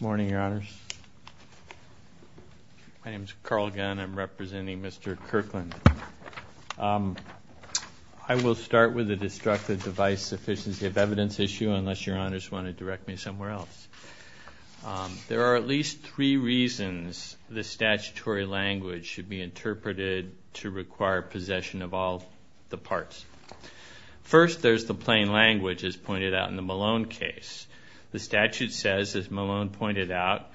Morning, your honors. My name is Carl Gunn. I'm representing Mr. Kirkland. I will start with the destructive device sufficiency of evidence issue unless your honors want to direct me somewhere else. There are at least three reasons the statutory language should be interpreted to require possession of all the parts. First, there's the plain language as pointed out in the Malone case. The statute says, as Malone pointed out,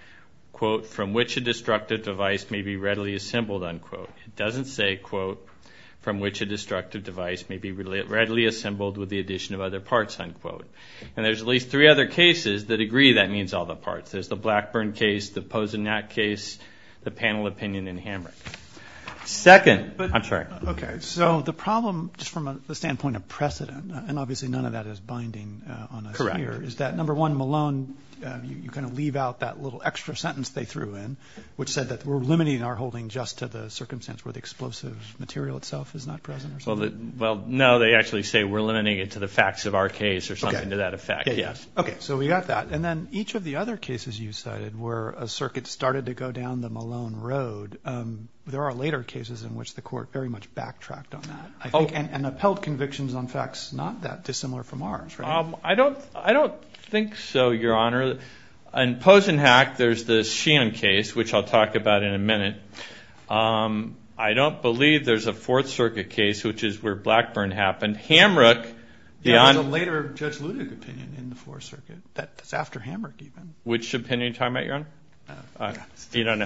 quote, from which a destructive device may be readily assembled, unquote. It doesn't say, quote, from which a destructive device may be readily assembled with the addition of other parts, unquote. And there's at least three other cases that agree that means all the parts. There's the Blackburn case, the Pozenak case, the panel opinion in Hamrick. Second, I'm sorry. Okay, so the problem just from a standpoint of is that, number one, Malone, you kind of leave out that little extra sentence they threw in, which said that we're limiting our holding just to the circumstance where the explosive material itself is not present. Well, no, they actually say we're limiting it to the facts of our case or something to that effect, yes. Okay, so we got that. And then each of the other cases you cited where a circuit started to go down the Malone Road, there are later cases in which the court very much backtracked on that, I think, and upheld convictions on facts not that dissimilar from ours, right? I don't think so, Your Honor. In Pozenak, there's the Sheehan case, which I'll talk about in a minute. I don't believe there's a Fourth Circuit case, which is where Blackburn happened. Hamrick... There's a later Judge Luttig opinion in the Fourth Circuit that's after Hamrick, even. Which opinion are you talking about, Your Honor? The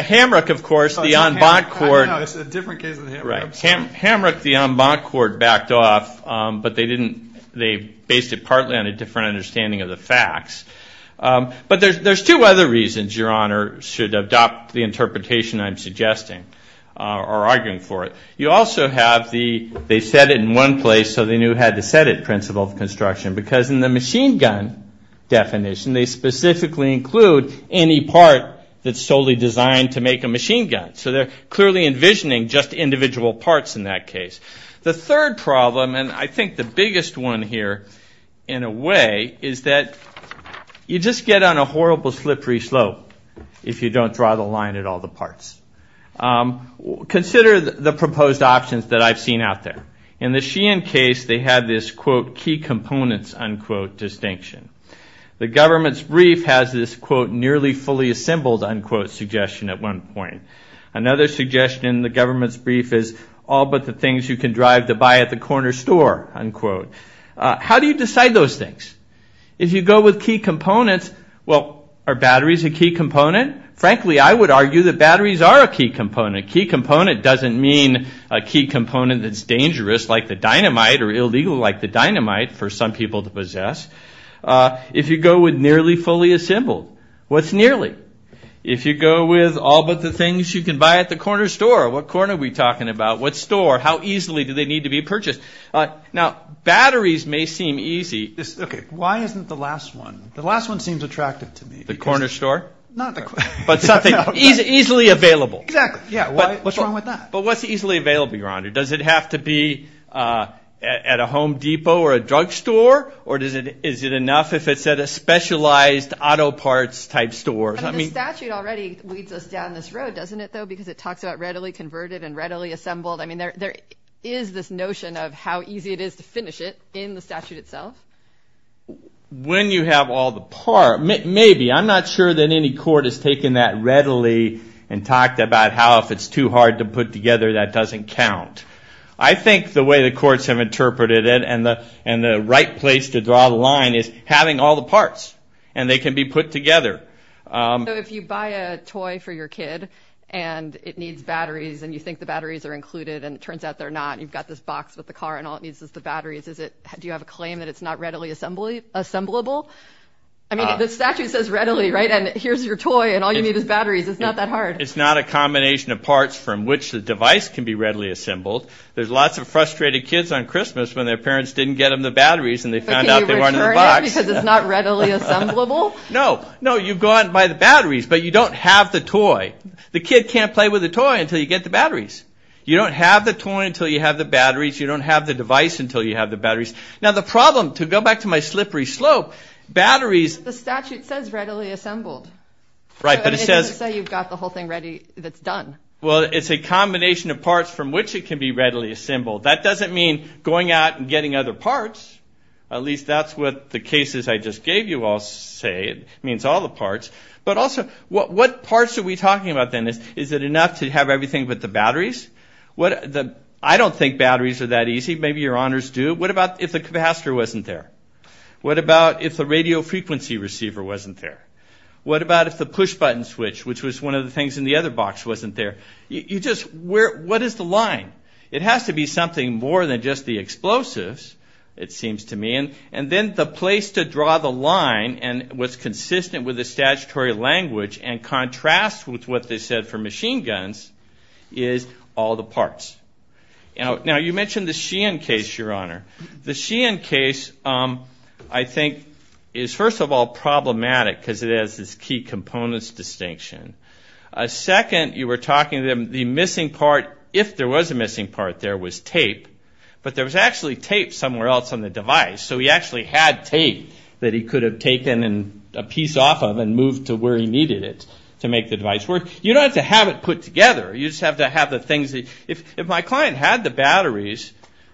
Hamrick, of course, the en banc court. No, it's a different case than the Hamrick. Right. Hamrick, the en banc court, backed off, but they didn't, they based it partly on a different understanding of the facts. But there's two other reasons, Your Honor, should adopt the interpretation I'm suggesting or arguing for it. You also have the, they said it in one place, so they knew had to set it, principle of construction. Because in the machine gun definition, they specifically include any part that's solely designed to make a machine gun. They're not envisioning just individual parts in that case. The third problem, and I think the biggest one here, in a way, is that you just get on a horrible slippery slope if you don't draw the line at all the parts. Consider the proposed options that I've seen out there. In the Sheehan case, they had this, quote, key components, unquote, distinction. The government's brief has this, quote, nearly fully assembled, unquote, suggestion at one point. Another suggestion in the government's brief is all but the things you can drive to buy at the corner store, unquote. How do you decide those things? If you go with key components, well, are batteries a key component? Frankly, I would argue that batteries are a key component. Key component doesn't mean a key component that's dangerous like the dynamite or illegal like the dynamite for some people to possess. If you go with nearly fully assembled, what's nearly? If you go with all but the things you can buy at the corner store, what corner are we talking about? What store? How easily do they need to be purchased? Now, batteries may seem easy. Okay, why isn't the last one? The last one seems attractive to me. The corner store? Not the corner store. But something easily available. Exactly. Yeah, what's wrong with that? But what's easily available, your honor? Does it have to be at a Home Depot or a drugstore or is it enough if it's at a specialized auto parts type store? The statute already leads us down this road, doesn't it though? Because it talks about readily converted and readily assembled. I mean, there is this notion of how easy it is to finish it in the statute itself. When you have all the parts, maybe. I'm not sure that any court has taken that readily and talked about how if it's too hard to put together that doesn't count. I think the way the courts have interpreted it and the right place to draw the line is having all the parts and they can be put together. If you buy a toy for your kid and it needs batteries and you think the batteries are included and it turns out they're not, you've got this box with the car and all it needs is the batteries, is it, do you have a claim that it's not readily assembly, assemblable? I mean, the statute says readily, right? And here's your toy and all you need is batteries. It's not that hard. It's not a combination of parts from which the device can be readily assembled. There's lots of frustrated kids on Christmas when their parents didn't get them the batteries and they found out they weren't in the box. Because it's not readily assemblable? No, no, you've gone by the batteries but you don't have the toy. The kid can't play with the toy until you get the batteries. You don't have the toy until you have the batteries. You don't have the device until you have the batteries. Now the problem, to go back to my slippery slope, batteries... The statute says readily assembled. Right, but it says... It doesn't say you've got the whole thing ready that's done. Well, it's a combination of parts from which it can be readily assembled. That doesn't mean going out and getting other parts. At least that's what the cases I just gave you all say. It means all the parts. But also, what parts are we talking about then? Is it enough to have everything but the batteries? I don't think batteries are that easy. Maybe your honors do. What about if the capacitor wasn't there? What about if the radio frequency receiver wasn't there? What about if the push button switch, which was one of the things in the other box, wasn't there? You just... What is the line? It has to be something more than just the explosives, it seems to me. And then the place to draw the line and what's consistent with the statutory language and contrasts with what they said for machine guns is all the parts. Now you mentioned the Sheehan case, your honor. The Sheehan case, I think, is first of all problematic because it has this key components distinction. Second, you were talking to them, the missing part, if there was a missing part there, was tape. But there was actually tape somewhere else on the device. So he actually had tape that he could have taken a piece off of and moved to where he needed it to make the device work. You don't have to have it put together. You just have to have the things... If my client had the batteries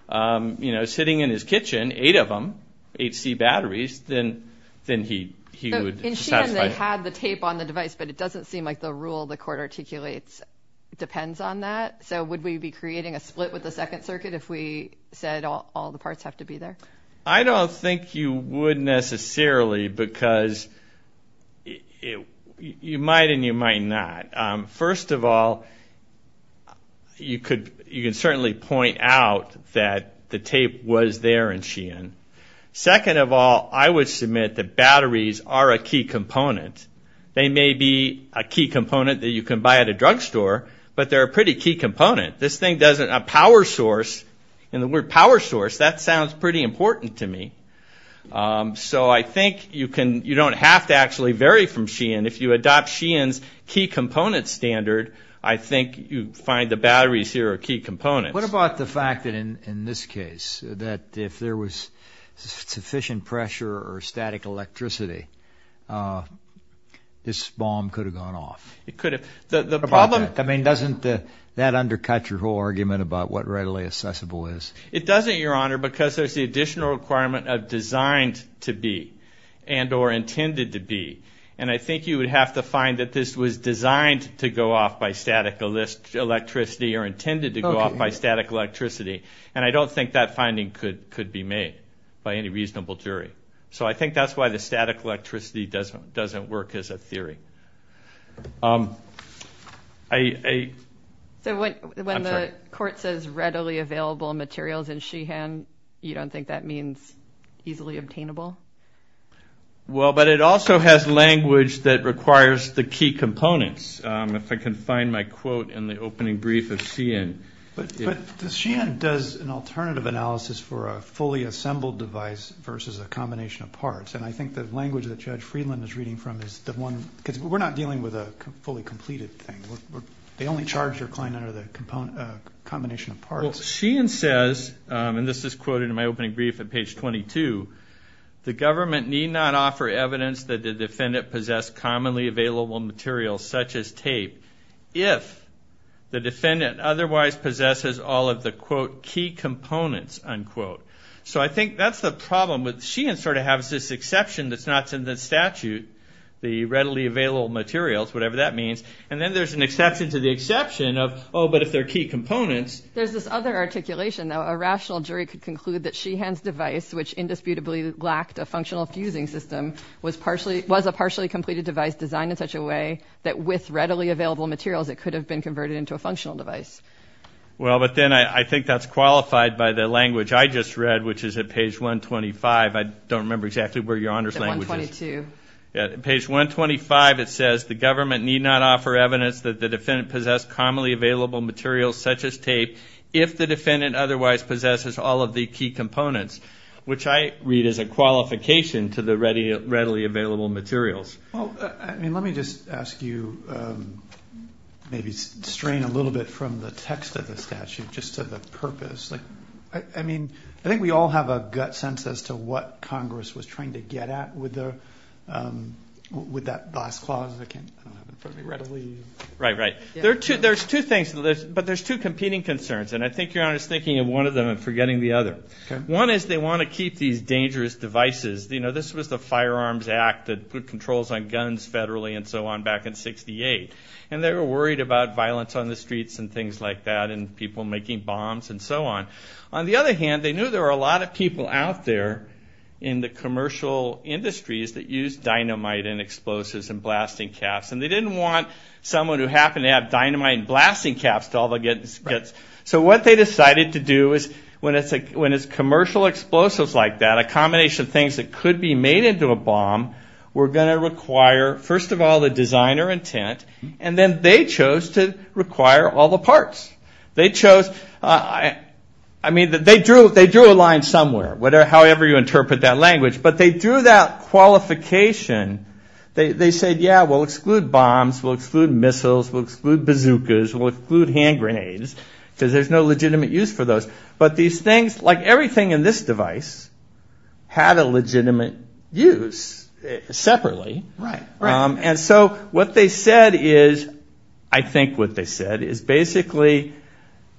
sitting in his kitchen, eight of them, 8C batteries, then he would satisfy... I understand they had the tape on the device, but it doesn't seem like the rule the court articulates depends on that. So would we be creating a split with the Second Circuit if we said all the parts have to be there? I don't think you would necessarily because you might and you might not. First of all, you could certainly point out that the tape was there in Sheehan. Second of all, I would prefer a key component. They may be a key component that you can buy at a drugstore, but they're a pretty key component. This thing doesn't... A power source, and the word power source, that sounds pretty important to me. So I think you don't have to actually vary from Sheehan. If you adopt Sheehan's key component standard, I think you find the batteries here are key components. What about the fact that in this case, that if there was sufficient pressure or static electricity, this bomb could have gone off? It could have. The problem... I mean, doesn't that undercut your whole argument about what readily accessible is? It doesn't, Your Honor, because there's the additional requirement of designed to be and or intended to be. And I think you would have to find that this was designed to go off by static electricity or intended to go off by static electricity. And I don't think that the static electricity doesn't work as a theory. So when the court says readily available materials in Sheehan, you don't think that means easily obtainable? Well, but it also has language that requires the key components. If I can find my quote in the opening brief of Sheehan... But Sheehan does an alternative analysis for a fully assembled device versus a combination of parts. And I think the language that Judge Freeland is reading from is the one... Because we're not dealing with a fully completed thing. They only charge your client under the combination of parts. Well, Sheehan says, and this is quoted in my opening brief at page 22, the government need not offer evidence that the defendant possessed commonly available materials such as tape if the defendant otherwise possesses all of the, quote, key components, unquote. So I think that's the problem. Sheehan sort of has this exception that's not in the statute, the readily available materials, whatever that means. And then there's an exception to the exception of, oh, but if they're key components... There's this other articulation, though. A rational jury could conclude that Sheehan's device, which indisputably lacked a functional fusing system, was a partially completed device designed in such a way that with readily available materials, it could have been converted into a functional device. Well, but then I think that's qualified by the language I just read, which is at page 125. I don't remember exactly where Your Honor's language is. Page 122. Yeah. At page 125, it says, the government need not offer evidence that the defendant possessed commonly available materials such as tape if the defendant otherwise possesses all of the key components, which I read as a qualification to the readily available materials. Well, I mean, let me just ask you, maybe strain a little bit from the text of the statute, just to the purpose. I mean, I think we all have a gut sense as to what Congress was trying to get at with that last clause. I don't have it in front of me readily. Right, right. There's two things, but there's two competing concerns, and I think Your Honor's thinking of one of them and forgetting the other. One is they want to keep these dangerous devices. You know, this was the Firearms Act that put controls on guns federally and so on back in 68, and they were worried about violence on the streets and things like that and people making bombs and so on. On the other hand, they knew there were a lot of people out there in the commercial industries that used dynamite and explosives and blasting caps, and they didn't want someone who happened to have dynamite and blasting caps to all they'll get. Right. So what they decided to do is when it's commercial explosives like that, a combination of things that could be made into a bomb, were going to require, first of all, the designer intent, and then they chose to require all the parts. They chose, I mean, they drew a line somewhere, however you interpret that language, but they drew that qualification. They said, yeah, we'll exclude bombs, we'll exclude missiles, we'll exclude bazookas, we'll exclude hand grenades, we'll exclude all the things that are legitimate use for those. But these things, like everything in this device, had a legitimate use, separately, and so what they said is, I think what they said, is basically,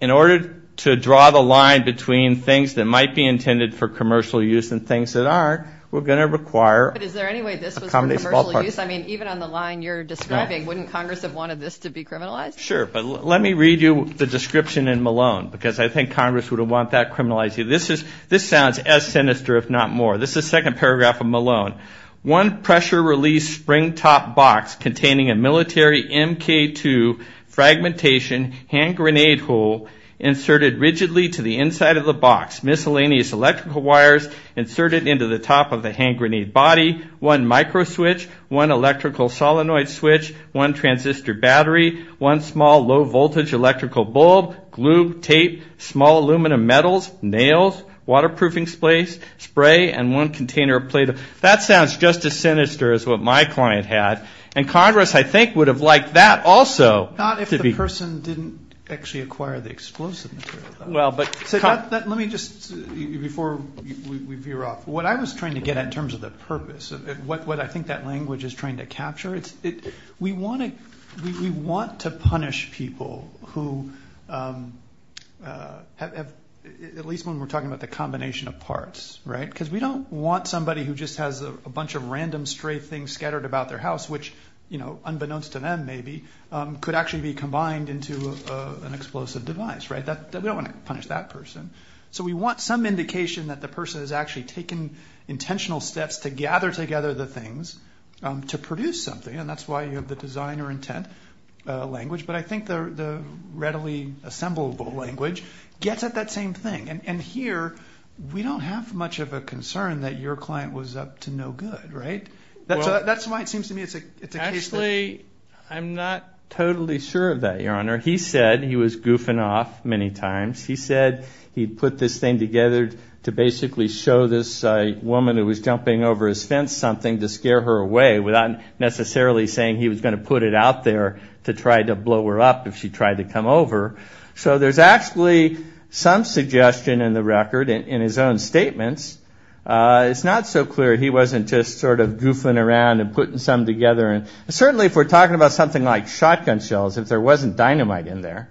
in order to draw the line between things that might be intended for commercial use and things that aren't, we're going to require a combination of all parts. But is there any way this was for commercial use? I mean, even on the line you're describing, wouldn't Congress have wanted this to be criminalized? Sure, but let me read you the description in Malone, because I think Congress would have wanted that criminalized. This sounds as sinister, if not more. This is the second paragraph of Malone. One pressure-release spring-top box containing a military MK-2 fragmentation hand grenade hole inserted rigidly to the inside of the box. Miscellaneous electrical wires inserted into the top of the hand grenade body. One microswitch, one electrical solenoid switch, one transistor battery, one small low-voltage electrical bulb, glue, tape, small aluminum metals, nails, waterproofing spray, and one container of Play-Doh. That sounds just as sinister as what my client had, and Congress, I think, would have liked that also. Not if the person didn't actually acquire the explosive material. Let me just, before we veer off, what I was trying to get at in terms of the purpose, what I think that language is trying to capture, we want to punish people who, at least when we're talking about the combination of parts, right? Because we don't want somebody who just has a bunch of random stray things scattered about their house, which unbeknownst to them, maybe, could actually be combined into an explosive device, right? We don't want to punish that person. So we want some indication that the person has actually taken intentional steps to gather together the things to produce something, and that's why you have the designer intent language. But I think the readily assemblable language gets at that same thing. And here, we don't have much of a concern that your client was up to no good, right? That's why it seems to me it's a case that- Actually, I'm not totally sure of that, Your Honor. He said he was goofing off many times. He said he'd put this thing together to basically show this woman who was jumping over his fence something to scare her away without necessarily saying he was going to put it out there to try to blow her up if she tried to come over. So there's actually some suggestion in the record in his own statements. It's not so clear he wasn't just sort of goofing around and putting some together. And certainly, if we're talking about something like shotgun shells, if there wasn't dynamite in there,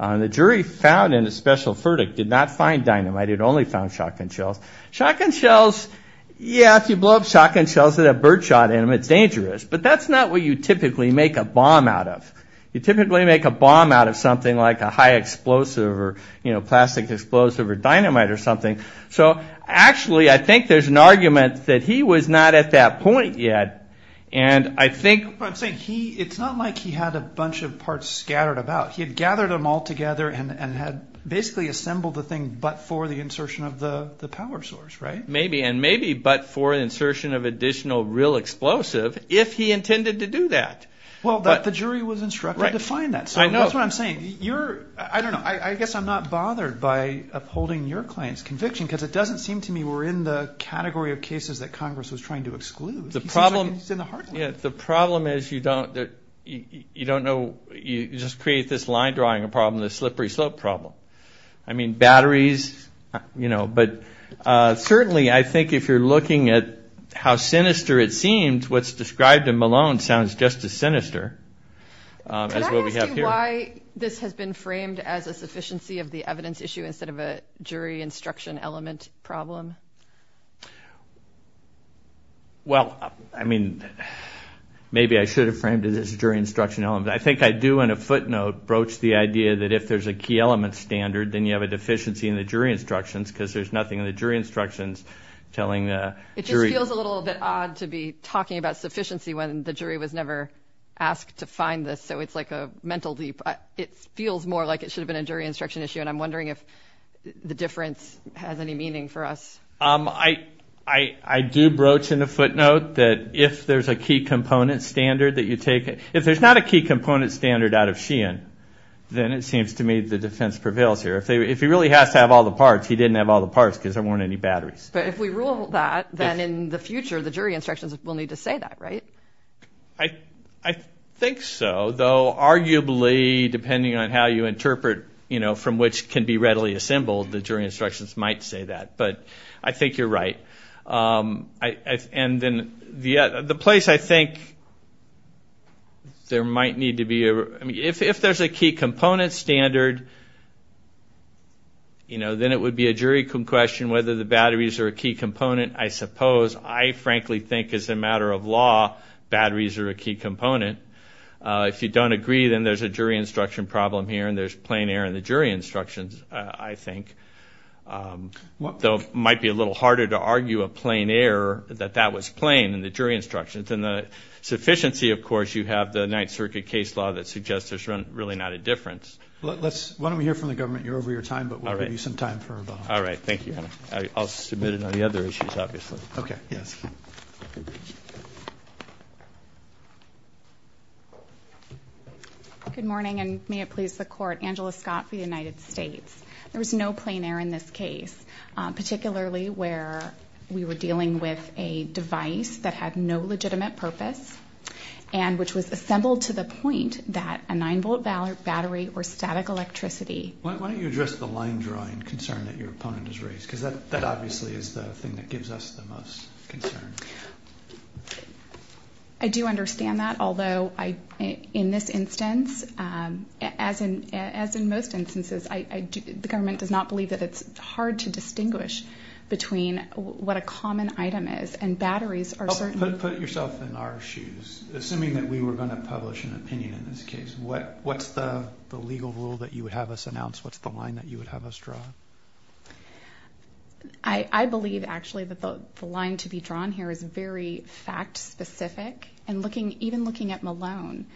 and the jury found in a special verdict did not find shotgun shells. Yeah, if you blow up shotgun shells that have birdshot in them, it's dangerous. But that's not what you typically make a bomb out of. You typically make a bomb out of something like a high explosive or plastic explosive or dynamite or something. So actually, I think there's an argument that he was not at that point yet. And I think- I'm saying it's not like he had a bunch of parts scattered about. He had gathered them all together and had basically assembled the insertion of the power source, right? Maybe. And maybe but for insertion of additional real explosive if he intended to do that. Well, the jury was instructed to find that. So that's what I'm saying. I don't know. I guess I'm not bothered by upholding your client's conviction because it doesn't seem to me we're in the category of cases that Congress was trying to exclude. The problem is you don't know. You just create this line drawing problem, this slippery slope problem. I mean, batteries, you know, but certainly I think if you're looking at how sinister it seems, what's described in Malone sounds just as sinister as what we have here. Can I ask you why this has been framed as a sufficiency of the evidence issue instead of a jury instruction element problem? Well, I mean, maybe I should have framed it as a jury instruction element. I think I do, in a footnote, broach the idea that if there's a key element standard, then you have a deficiency in the jury instructions because there's nothing in the jury instructions telling the jury. It just feels a little bit odd to be talking about sufficiency when the jury was never asked to find this. So it's like a mental leap. It feels more like it should have been a jury instruction issue. And I'm wondering if the difference has any meaning for us. I do broach in a footnote that if there's a key component standard that you take, if there's not a key component standard out of Sheehan, then it seems to me the defense prevails here. If he really has to have all the parts, he didn't have all the parts because there weren't any batteries. But if we rule that, then in the future, the jury instructions will need to say that, right? I think so, though arguably depending on how you interpret, you know, from which can be readily assembled, the jury instructions might say that. But I think you're right. And then the place I think there might need to be, I mean, if there's a key component standard, you know, then it would be a jury question whether the batteries are a key component. I suppose. I frankly think as a matter of law, batteries are a key component. If you don't agree, then there's a jury instruction problem here and there's plain error in the jury instructions, I think. Though it might be a little harder to argue a plain error that that was plain in the jury instructions. And the sufficiency, of course, you have the Ninth Circuit case law that suggests there's really not a difference. Let's, why don't we hear from the government. You're over your time, but we'll give you some time for about. All right. Thank you. I'll submit it on the other issues, obviously. Okay. Yes. Good morning, and may it please the court. Angela Scott for the United States. There was no plain error in this case, particularly where we were dealing with a device that had no legitimate purpose and which was assembled to the point that a nine volt battery or static electricity. Why don't you address the line drawing concern that your opponent has raised? Because that obviously is the thing that gives us the most concern. I do understand that. Although I, in this instance, as in, as in most instances, I, I do, the government does not believe that it's hard to distinguish between what a common item is and batteries are certain. Put yourself in our shoes. Assuming that we were going to publish an opinion in this case, what, what's the legal rule that you would have us announce? What's the line that you would have us draw? I believe actually that the line to be drawn here is that the very fact specific and looking, even looking at Malone,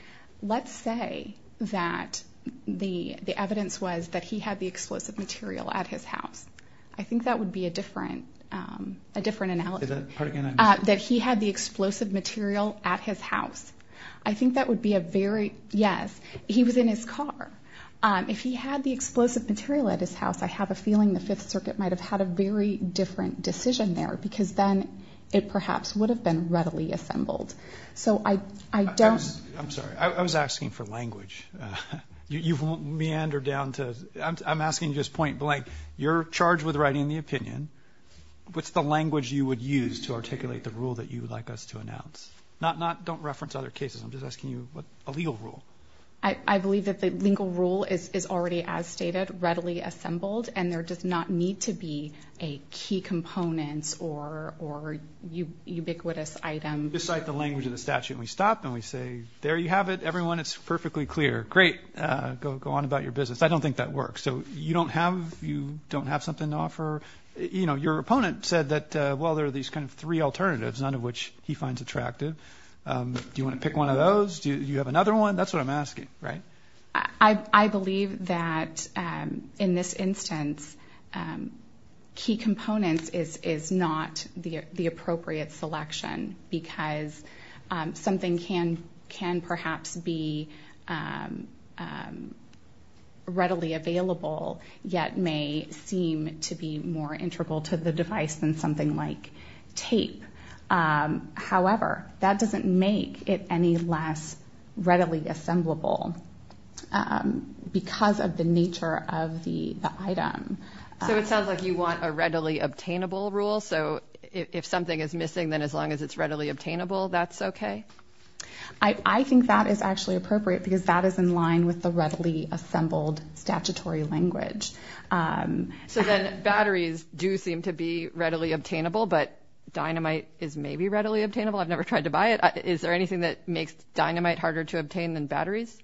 let's say that the, the evidence was that he had the explosive material at his house. I think that would be a different, a different analogy. That he had the explosive material at his house. I think that would be a very, yes, he was in his car. If he had the explosive material at his house, I have a feeling the would have been readily assembled. So I, I don't, I'm sorry, I was asking for language. You've meandered down to, I'm asking you this point blank. You're charged with writing the opinion. What's the language you would use to articulate the rule that you would like us to announce? Not, not, don't reference other cases. I'm just asking you what a legal rule. I believe that the legal rule is already as stated, readily assembled, and there does not need to be a key component or, or ubiquitous item. You just cite the language of the statute and we stop and we say, there you have it, everyone. It's perfectly clear. Great. Go, go on about your business. I don't think that works. So you don't have, you don't have something to offer. You know, your opponent said that, well, there are these kind of three alternatives, none of which he finds attractive. Do you want to pick one of those? Do you have another one? That's what I'm asking. Right. I, I believe that, um, in this instance, um, key components is, is not the, the appropriate selection because, um, something can, can perhaps be, um, um, readily available yet may seem to be more integral to the device than something like tape. Um, however, that doesn't make it any less readily assemblable, um, because of the nature of the, the item. So it sounds like you want a readily obtainable rule. So if something is missing, then as long as it's readily obtainable, that's okay. I, I think that is actually appropriate because that is in line with the readily assembled statutory language. Um, so then batteries do seem to be readily obtainable, but dynamite is maybe readily obtainable. I've never tried to buy it. Is there anything that makes dynamite harder to obtain than batteries?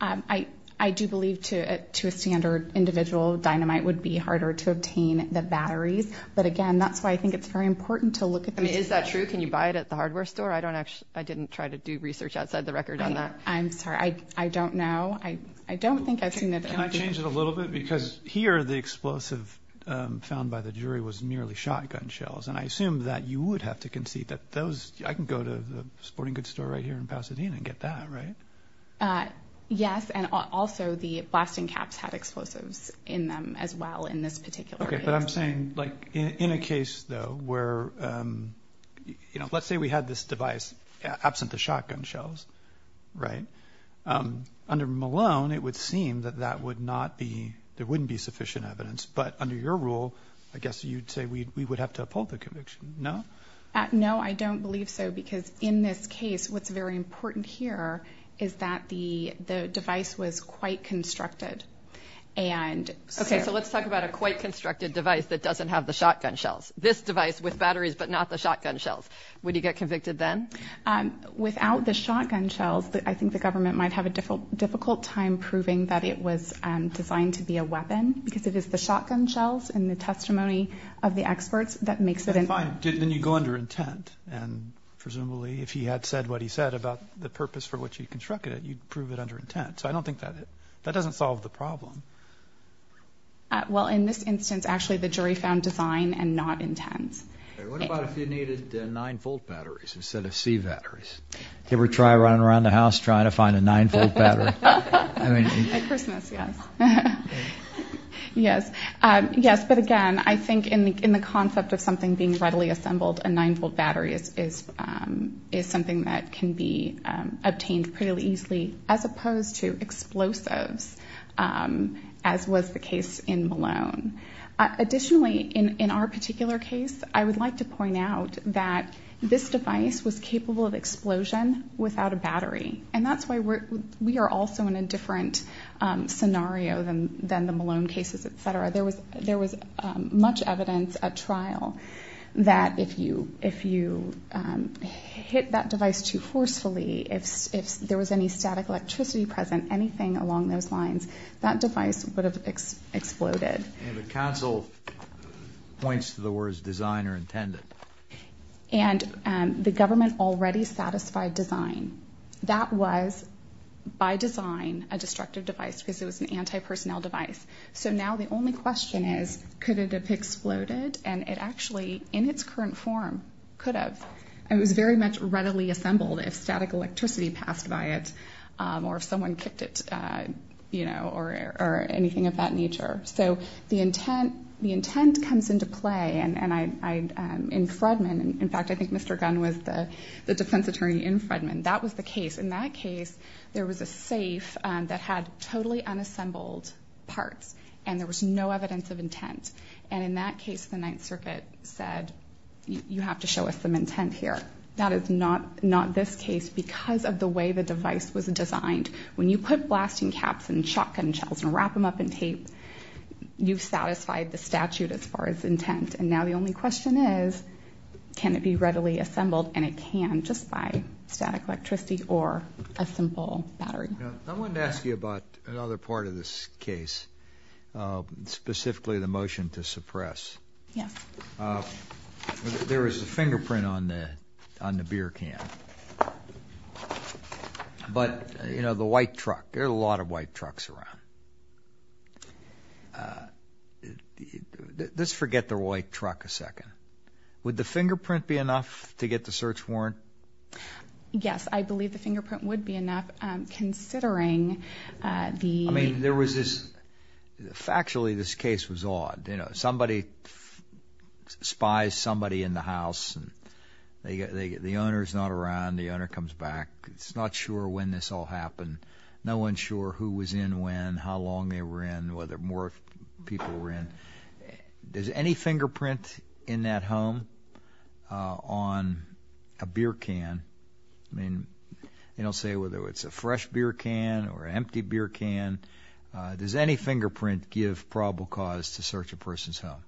Um, I, I do believe to, uh, to a standard individual dynamite would be harder to obtain the batteries. But again, that's why I think it's very important to look at them. Is that true? Can you buy it at the hardware store? I don't actually, I didn't try to do research outside the record on that. I'm sorry. I, I don't know. I, I don't think I've seen that. Can I change it a little bit because here the explosive, um, found by the jury was merely shotgun shells. And I assume that you would have to concede that those, I can go to the sporting goods store right here in Pasadena and get that, right? Uh, yes. And also the blasting caps had explosives in them as well in this particular case. Okay. But I'm saying like in a case though, where, um, you know, let's say we had this device absent the shotgun shells, right? Um, under Malone, it would seem that that would not be, there wouldn't be sufficient evidence, but under your rule, I guess you'd say we, we would have to uphold the conviction. No? No, I don't believe so. Because in this case, what's very important here is that the, the device was quite constructed and. Okay. So let's talk about a quite constructed device that doesn't have the shotgun shells, this device with batteries, but not the shotgun shells. Would you get convicted then? Um, without the shotgun shells, I think the government might have a difficult, difficult time proving that it was designed to be a weapon because it is the and presumably if he had said what he said about the purpose for which he constructed it, you'd prove it under intent. So I don't think that, that doesn't solve the problem. Well, in this instance, actually the jury found design and not intent. What about if you needed a nine-volt batteries instead of C batteries? Can we try running around the house trying to find a nine-volt battery? At Christmas, yes. Yes. Um, yes, but again, I think in the, in the concept of something being readily assembled, a nine-volt battery is, is, um, is something that can be, um, obtained pretty easily as opposed to explosives, um, as was the case in Malone. Additionally, in, in our particular case, I would like to point out that this device was capable of explosion without a battery. And that's why we're, we are also in a different, um, scenario than, than the Malone cases, et cetera. There was, there was, um, much evidence at trial that if you, if you, um, hit that device too forcefully, if, if there was any static electricity present, anything along those lines, that device would have exploded. And the council points to the words design or intended. And, um, the government already satisfied design. That was by design a destructive device because it was an anti-personnel device. So now the only question is, could it have exploded? And it actually, in its current form, could have. It was very much readily assembled if static electricity passed by it, um, or if someone kicked it, uh, you know, or, or anything of that nature. So the intent, the intent comes into play. And, and I, I, um, in Fredman, in fact, I think Mr. Gunn was the, the defense attorney in Fredman. That was the case. In that case, there was a safe, um, that had totally unassembled parts and there was no evidence of intent. And in that case, the Ninth Circuit said, you have to show us some intent here. That is not, not this case because of the way the device was designed. When you put blasting caps and shotgun shells and wrap them up in tape, you've satisfied the statute as far as intent. And now the only question is, can it be readily assembled? And it can just by static electricity or a simple battery. I wanted to ask you about another part of this case, uh, specifically the motion to suppress. There is a fingerprint on the, on the beer can, but you know, the white truck, there are a lot of white trucks around. Let's forget the white truck a second. Would the fingerprint be enough to get the search warrant? Um, yes, I believe the fingerprint would be enough. Um, considering, uh, the, I mean, there was this factually, this case was odd. You know, somebody spies somebody in the house and they get, they, the owner's not around. The owner comes back. It's not sure when this all happened. No one's sure who was in, when, how long they were in, whether more people were in. Does any fingerprint in that home, uh, on a beer can, I mean, you don't say whether it's a fresh beer can or empty beer can, uh, does any fingerprint give probable cause to search a person's home?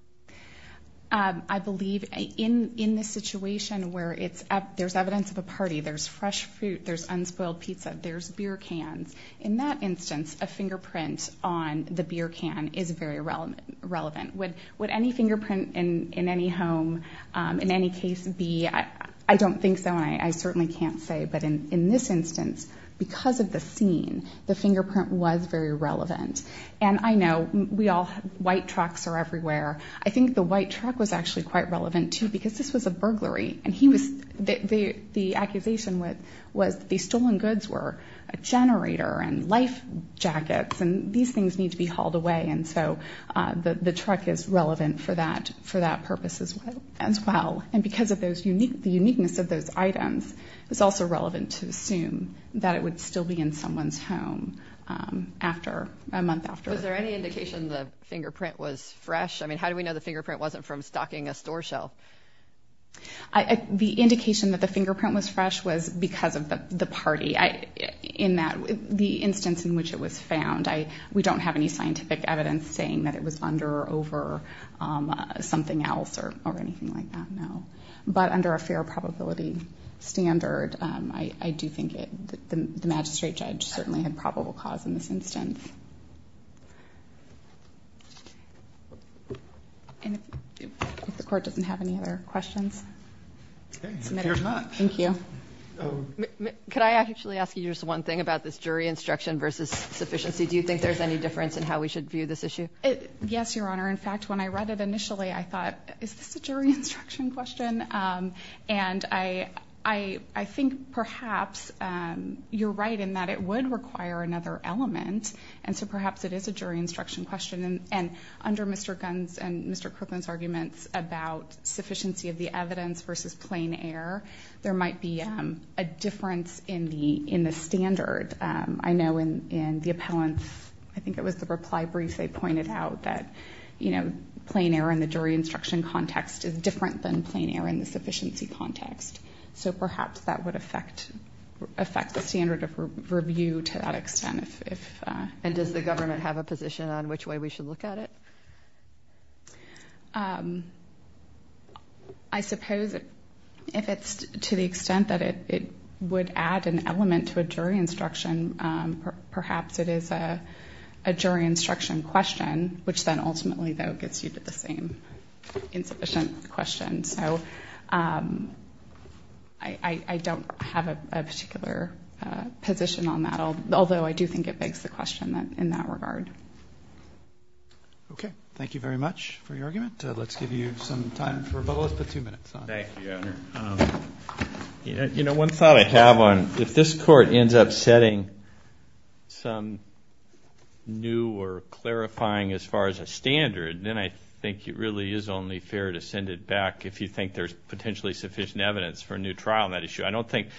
Um, I believe in, in this situation where it's, there's evidence of a party, there's fresh fruit, there's unspoiled pizza, there's beer cans. In that instance, a fingerprint on the beer can is very relevant. Would any fingerprint in any home, um, in any case be, I don't think so, and I certainly can't say, but in this instance, because of the scene, the fingerprint was very relevant. And I know we all, white trucks are everywhere. I think the white truck was actually quite relevant too, because this was a burglary and he was, the accusation was, was the stolen goods were a generator and life jackets, and these things need to be hauled away. And so, uh, the, the truck is relevant for that, for that purpose as well, as well. And because of those unique, the uniqueness of those items, it was also relevant to assume that it would still be in someone's home, um, after a month after. Was there any indication the fingerprint was fresh? I mean, how do we know the fingerprint wasn't from stocking a store shelf? I, the indication that the in that, the instance in which it was found, I, we don't have any scientific evidence saying that it was under or over, um, uh, something else or, or anything like that now, but under a fair probability standard, um, I, I do think it, the magistrate judge certainly had probable cause in this instance. And if the court doesn't have any other questions. Okay. Thank you. Um, could I actually ask you just one thing about this jury instruction versus sufficiency? Do you think there's any difference in how we should view this issue? Yes, Your Honor. In fact, when I read it initially, I thought, is this a jury instruction question? Um, and I, I, I think perhaps, um, you're right in that it would require another element. And so perhaps it is a jury instruction question. And under Mr. Gunn's and Mr. Kirkland's about sufficiency of the evidence versus plain air, there might be, um, a difference in the, in the standard. Um, I know in, in the appellants, I think it was the reply brief they pointed out that, you know, plain air in the jury instruction context is different than plain air in the sufficiency context. So perhaps that would affect, affect the standard of review to that extent. And does the government have a position on which way we should look at it? Um, I suppose if it's to the extent that it, it would add an element to a jury instruction, perhaps it is a, a jury instruction question, which then ultimately though gets you to the same insufficient question. So, um, I, I don't have a particular, uh, position on that, although I do think it begs the question that in that regard. Okay. Thank you very much for your argument. Let's give you some time for both, but two minutes. Thank you, Your Honor. Um, you know, one thought I have on if this court ends up setting some new or clarifying as far as a standard, then I think it really is only fair to send it back if you think there's potentially sufficient evidence for a new trial on that issue. I don't think,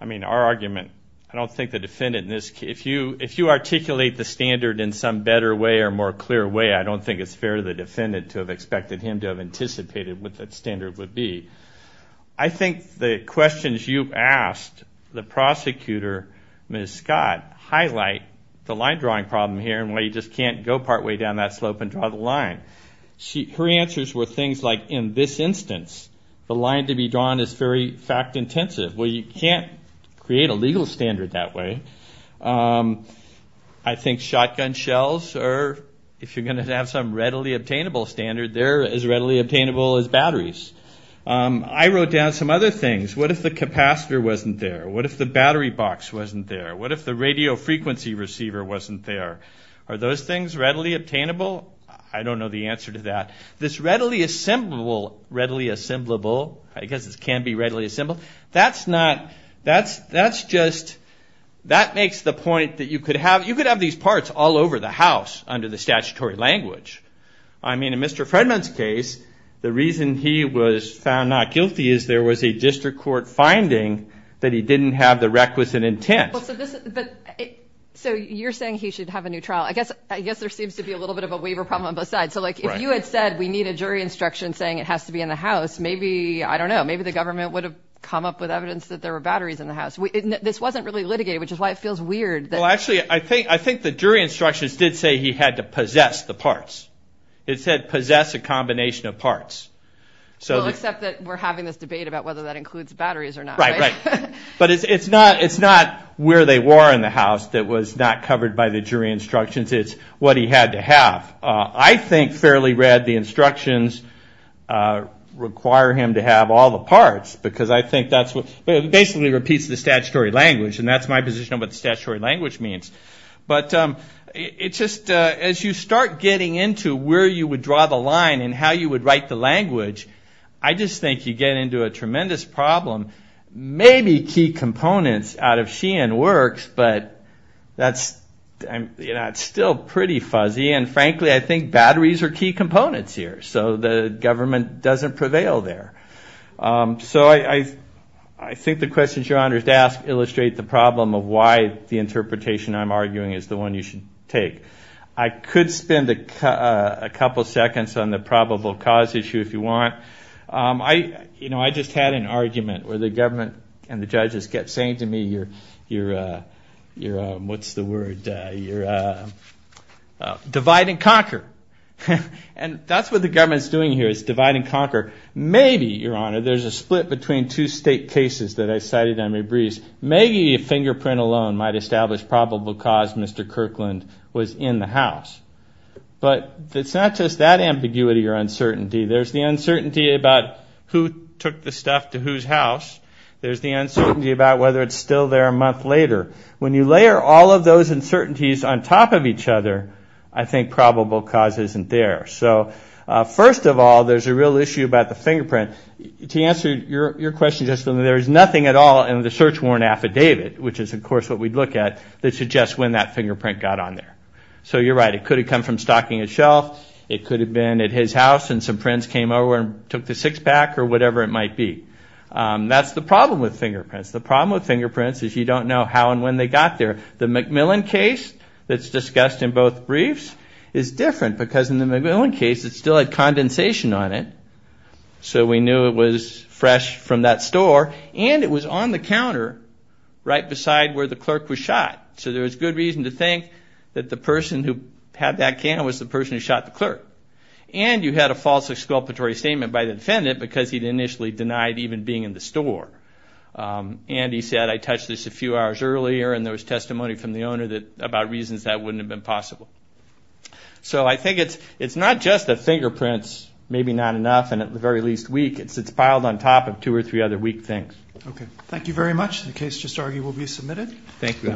I mean, our argument, I don't think the defendant in this case, if you, if you articulate the standard in some better way or more clear way, I don't think it's fair to the defendant to have expected him to have anticipated what that standard would be. I think the questions you asked the prosecutor, Ms. Scott, highlight the line drawing problem here and why you just can't go partway down that slope and draw the line. She, her answers were things like, in this instance, the line to be drawn is very fact intensive. Well, you can't create a legal standard that way. Um, I think shotgun shells are, if you're going to have some readily obtainable standard, they're as readily obtainable as batteries. Um, I wrote down some other things. What if the capacitor wasn't there? What if the battery box wasn't there? What if the radio frequency receiver wasn't there? Are those things readily obtainable? I don't know the answer to that. This readily assemblable, readily assemblable, I guess it can be readily assemblable. That's not, that's, that's just, that makes the point that you could have, you could have these parts all over the house under the statutory language. I mean, in Mr. Fredman's case, the reason he was found not guilty is there was a district court finding that he didn't have the requisite intent. So you're saying he should have a new trial. I guess, I guess there seems to be a little bit of a waiver problem on both sides. So like, if you had said we need a jury instruction saying it has to be in the house, maybe, I don't know, maybe the government would have come up with evidence that there were batteries in the house. We, this wasn't really litigated, which is why it feels weird. Well, actually, I think, I think the jury instructions did say he had to possess the parts. It said possess a combination of parts. So, except that we're having this debate about whether that includes batteries or not. Right, right. But it's, it's not, it's not where they were in the house that was not covered by the jury instructions. It's what he had to have. I think, fairly read, the instructions require him to have all the parts because I think that's what basically repeats the statutory language. And that's my position on what the statutory language means. But it's just, as you start getting into where you would draw the line and how you would write the language, I just think you get into a tremendous problem. Maybe key components out of Sheehan works, but that's, that's still pretty fuzzy. And frankly, I think batteries are key components here. So the government doesn't prevail there. So I, I, I think the questions you're honored to ask illustrate the problem of why the interpretation I'm arguing is the one you should take. I could spend a couple seconds on the probable cause issue if you want. I, you know, I just had an argument where the government and the judges kept saying to me, you're, you're, you're, what's the word? You're divide and conquer. And that's what the government's doing here is divide and conquer. Maybe, your honor, there's a split between two state cases that I cited on my briefs. Maybe a fingerprint alone might establish probable cause Mr. Kirkland was in the house. But it's not just that ambiguity or uncertainty. There's the uncertainty about who took the stuff to whose house. There's the uncertainty about whether it's still there a month later. When you layer all of those uncertainties on top of each other, I think probable cause isn't there. So first of all, there's a real issue about the fingerprint. To answer your question, there's nothing at all in the search warrant affidavit, which is, of course, what we'd look at that suggests when that fingerprint got on there. So you're right, it could have come from stocking a shelf. It could have been at his house and some friends came over and took the six pack or whatever it might be. That's the problem with fingerprints. The problem with fingerprints is you don't know how and when they got there. The McMillan case that's discussed in both briefs is different because in the McMillan case, it still had condensation on it. So we knew it was fresh from that store. And it was on the counter right beside where the clerk was shot. So there was good reason to think that the person who had that can was the statement by the defendant because he'd initially denied even being in the store. And he said, I touched this a few hours earlier and there was testimony from the owner about reasons that wouldn't have been possible. So I think it's not just the fingerprints, maybe not enough, and at the very least weak. It's piled on top of two or three other weak things. Okay. Thank you very much. The case just argued will be submitted. Thank you.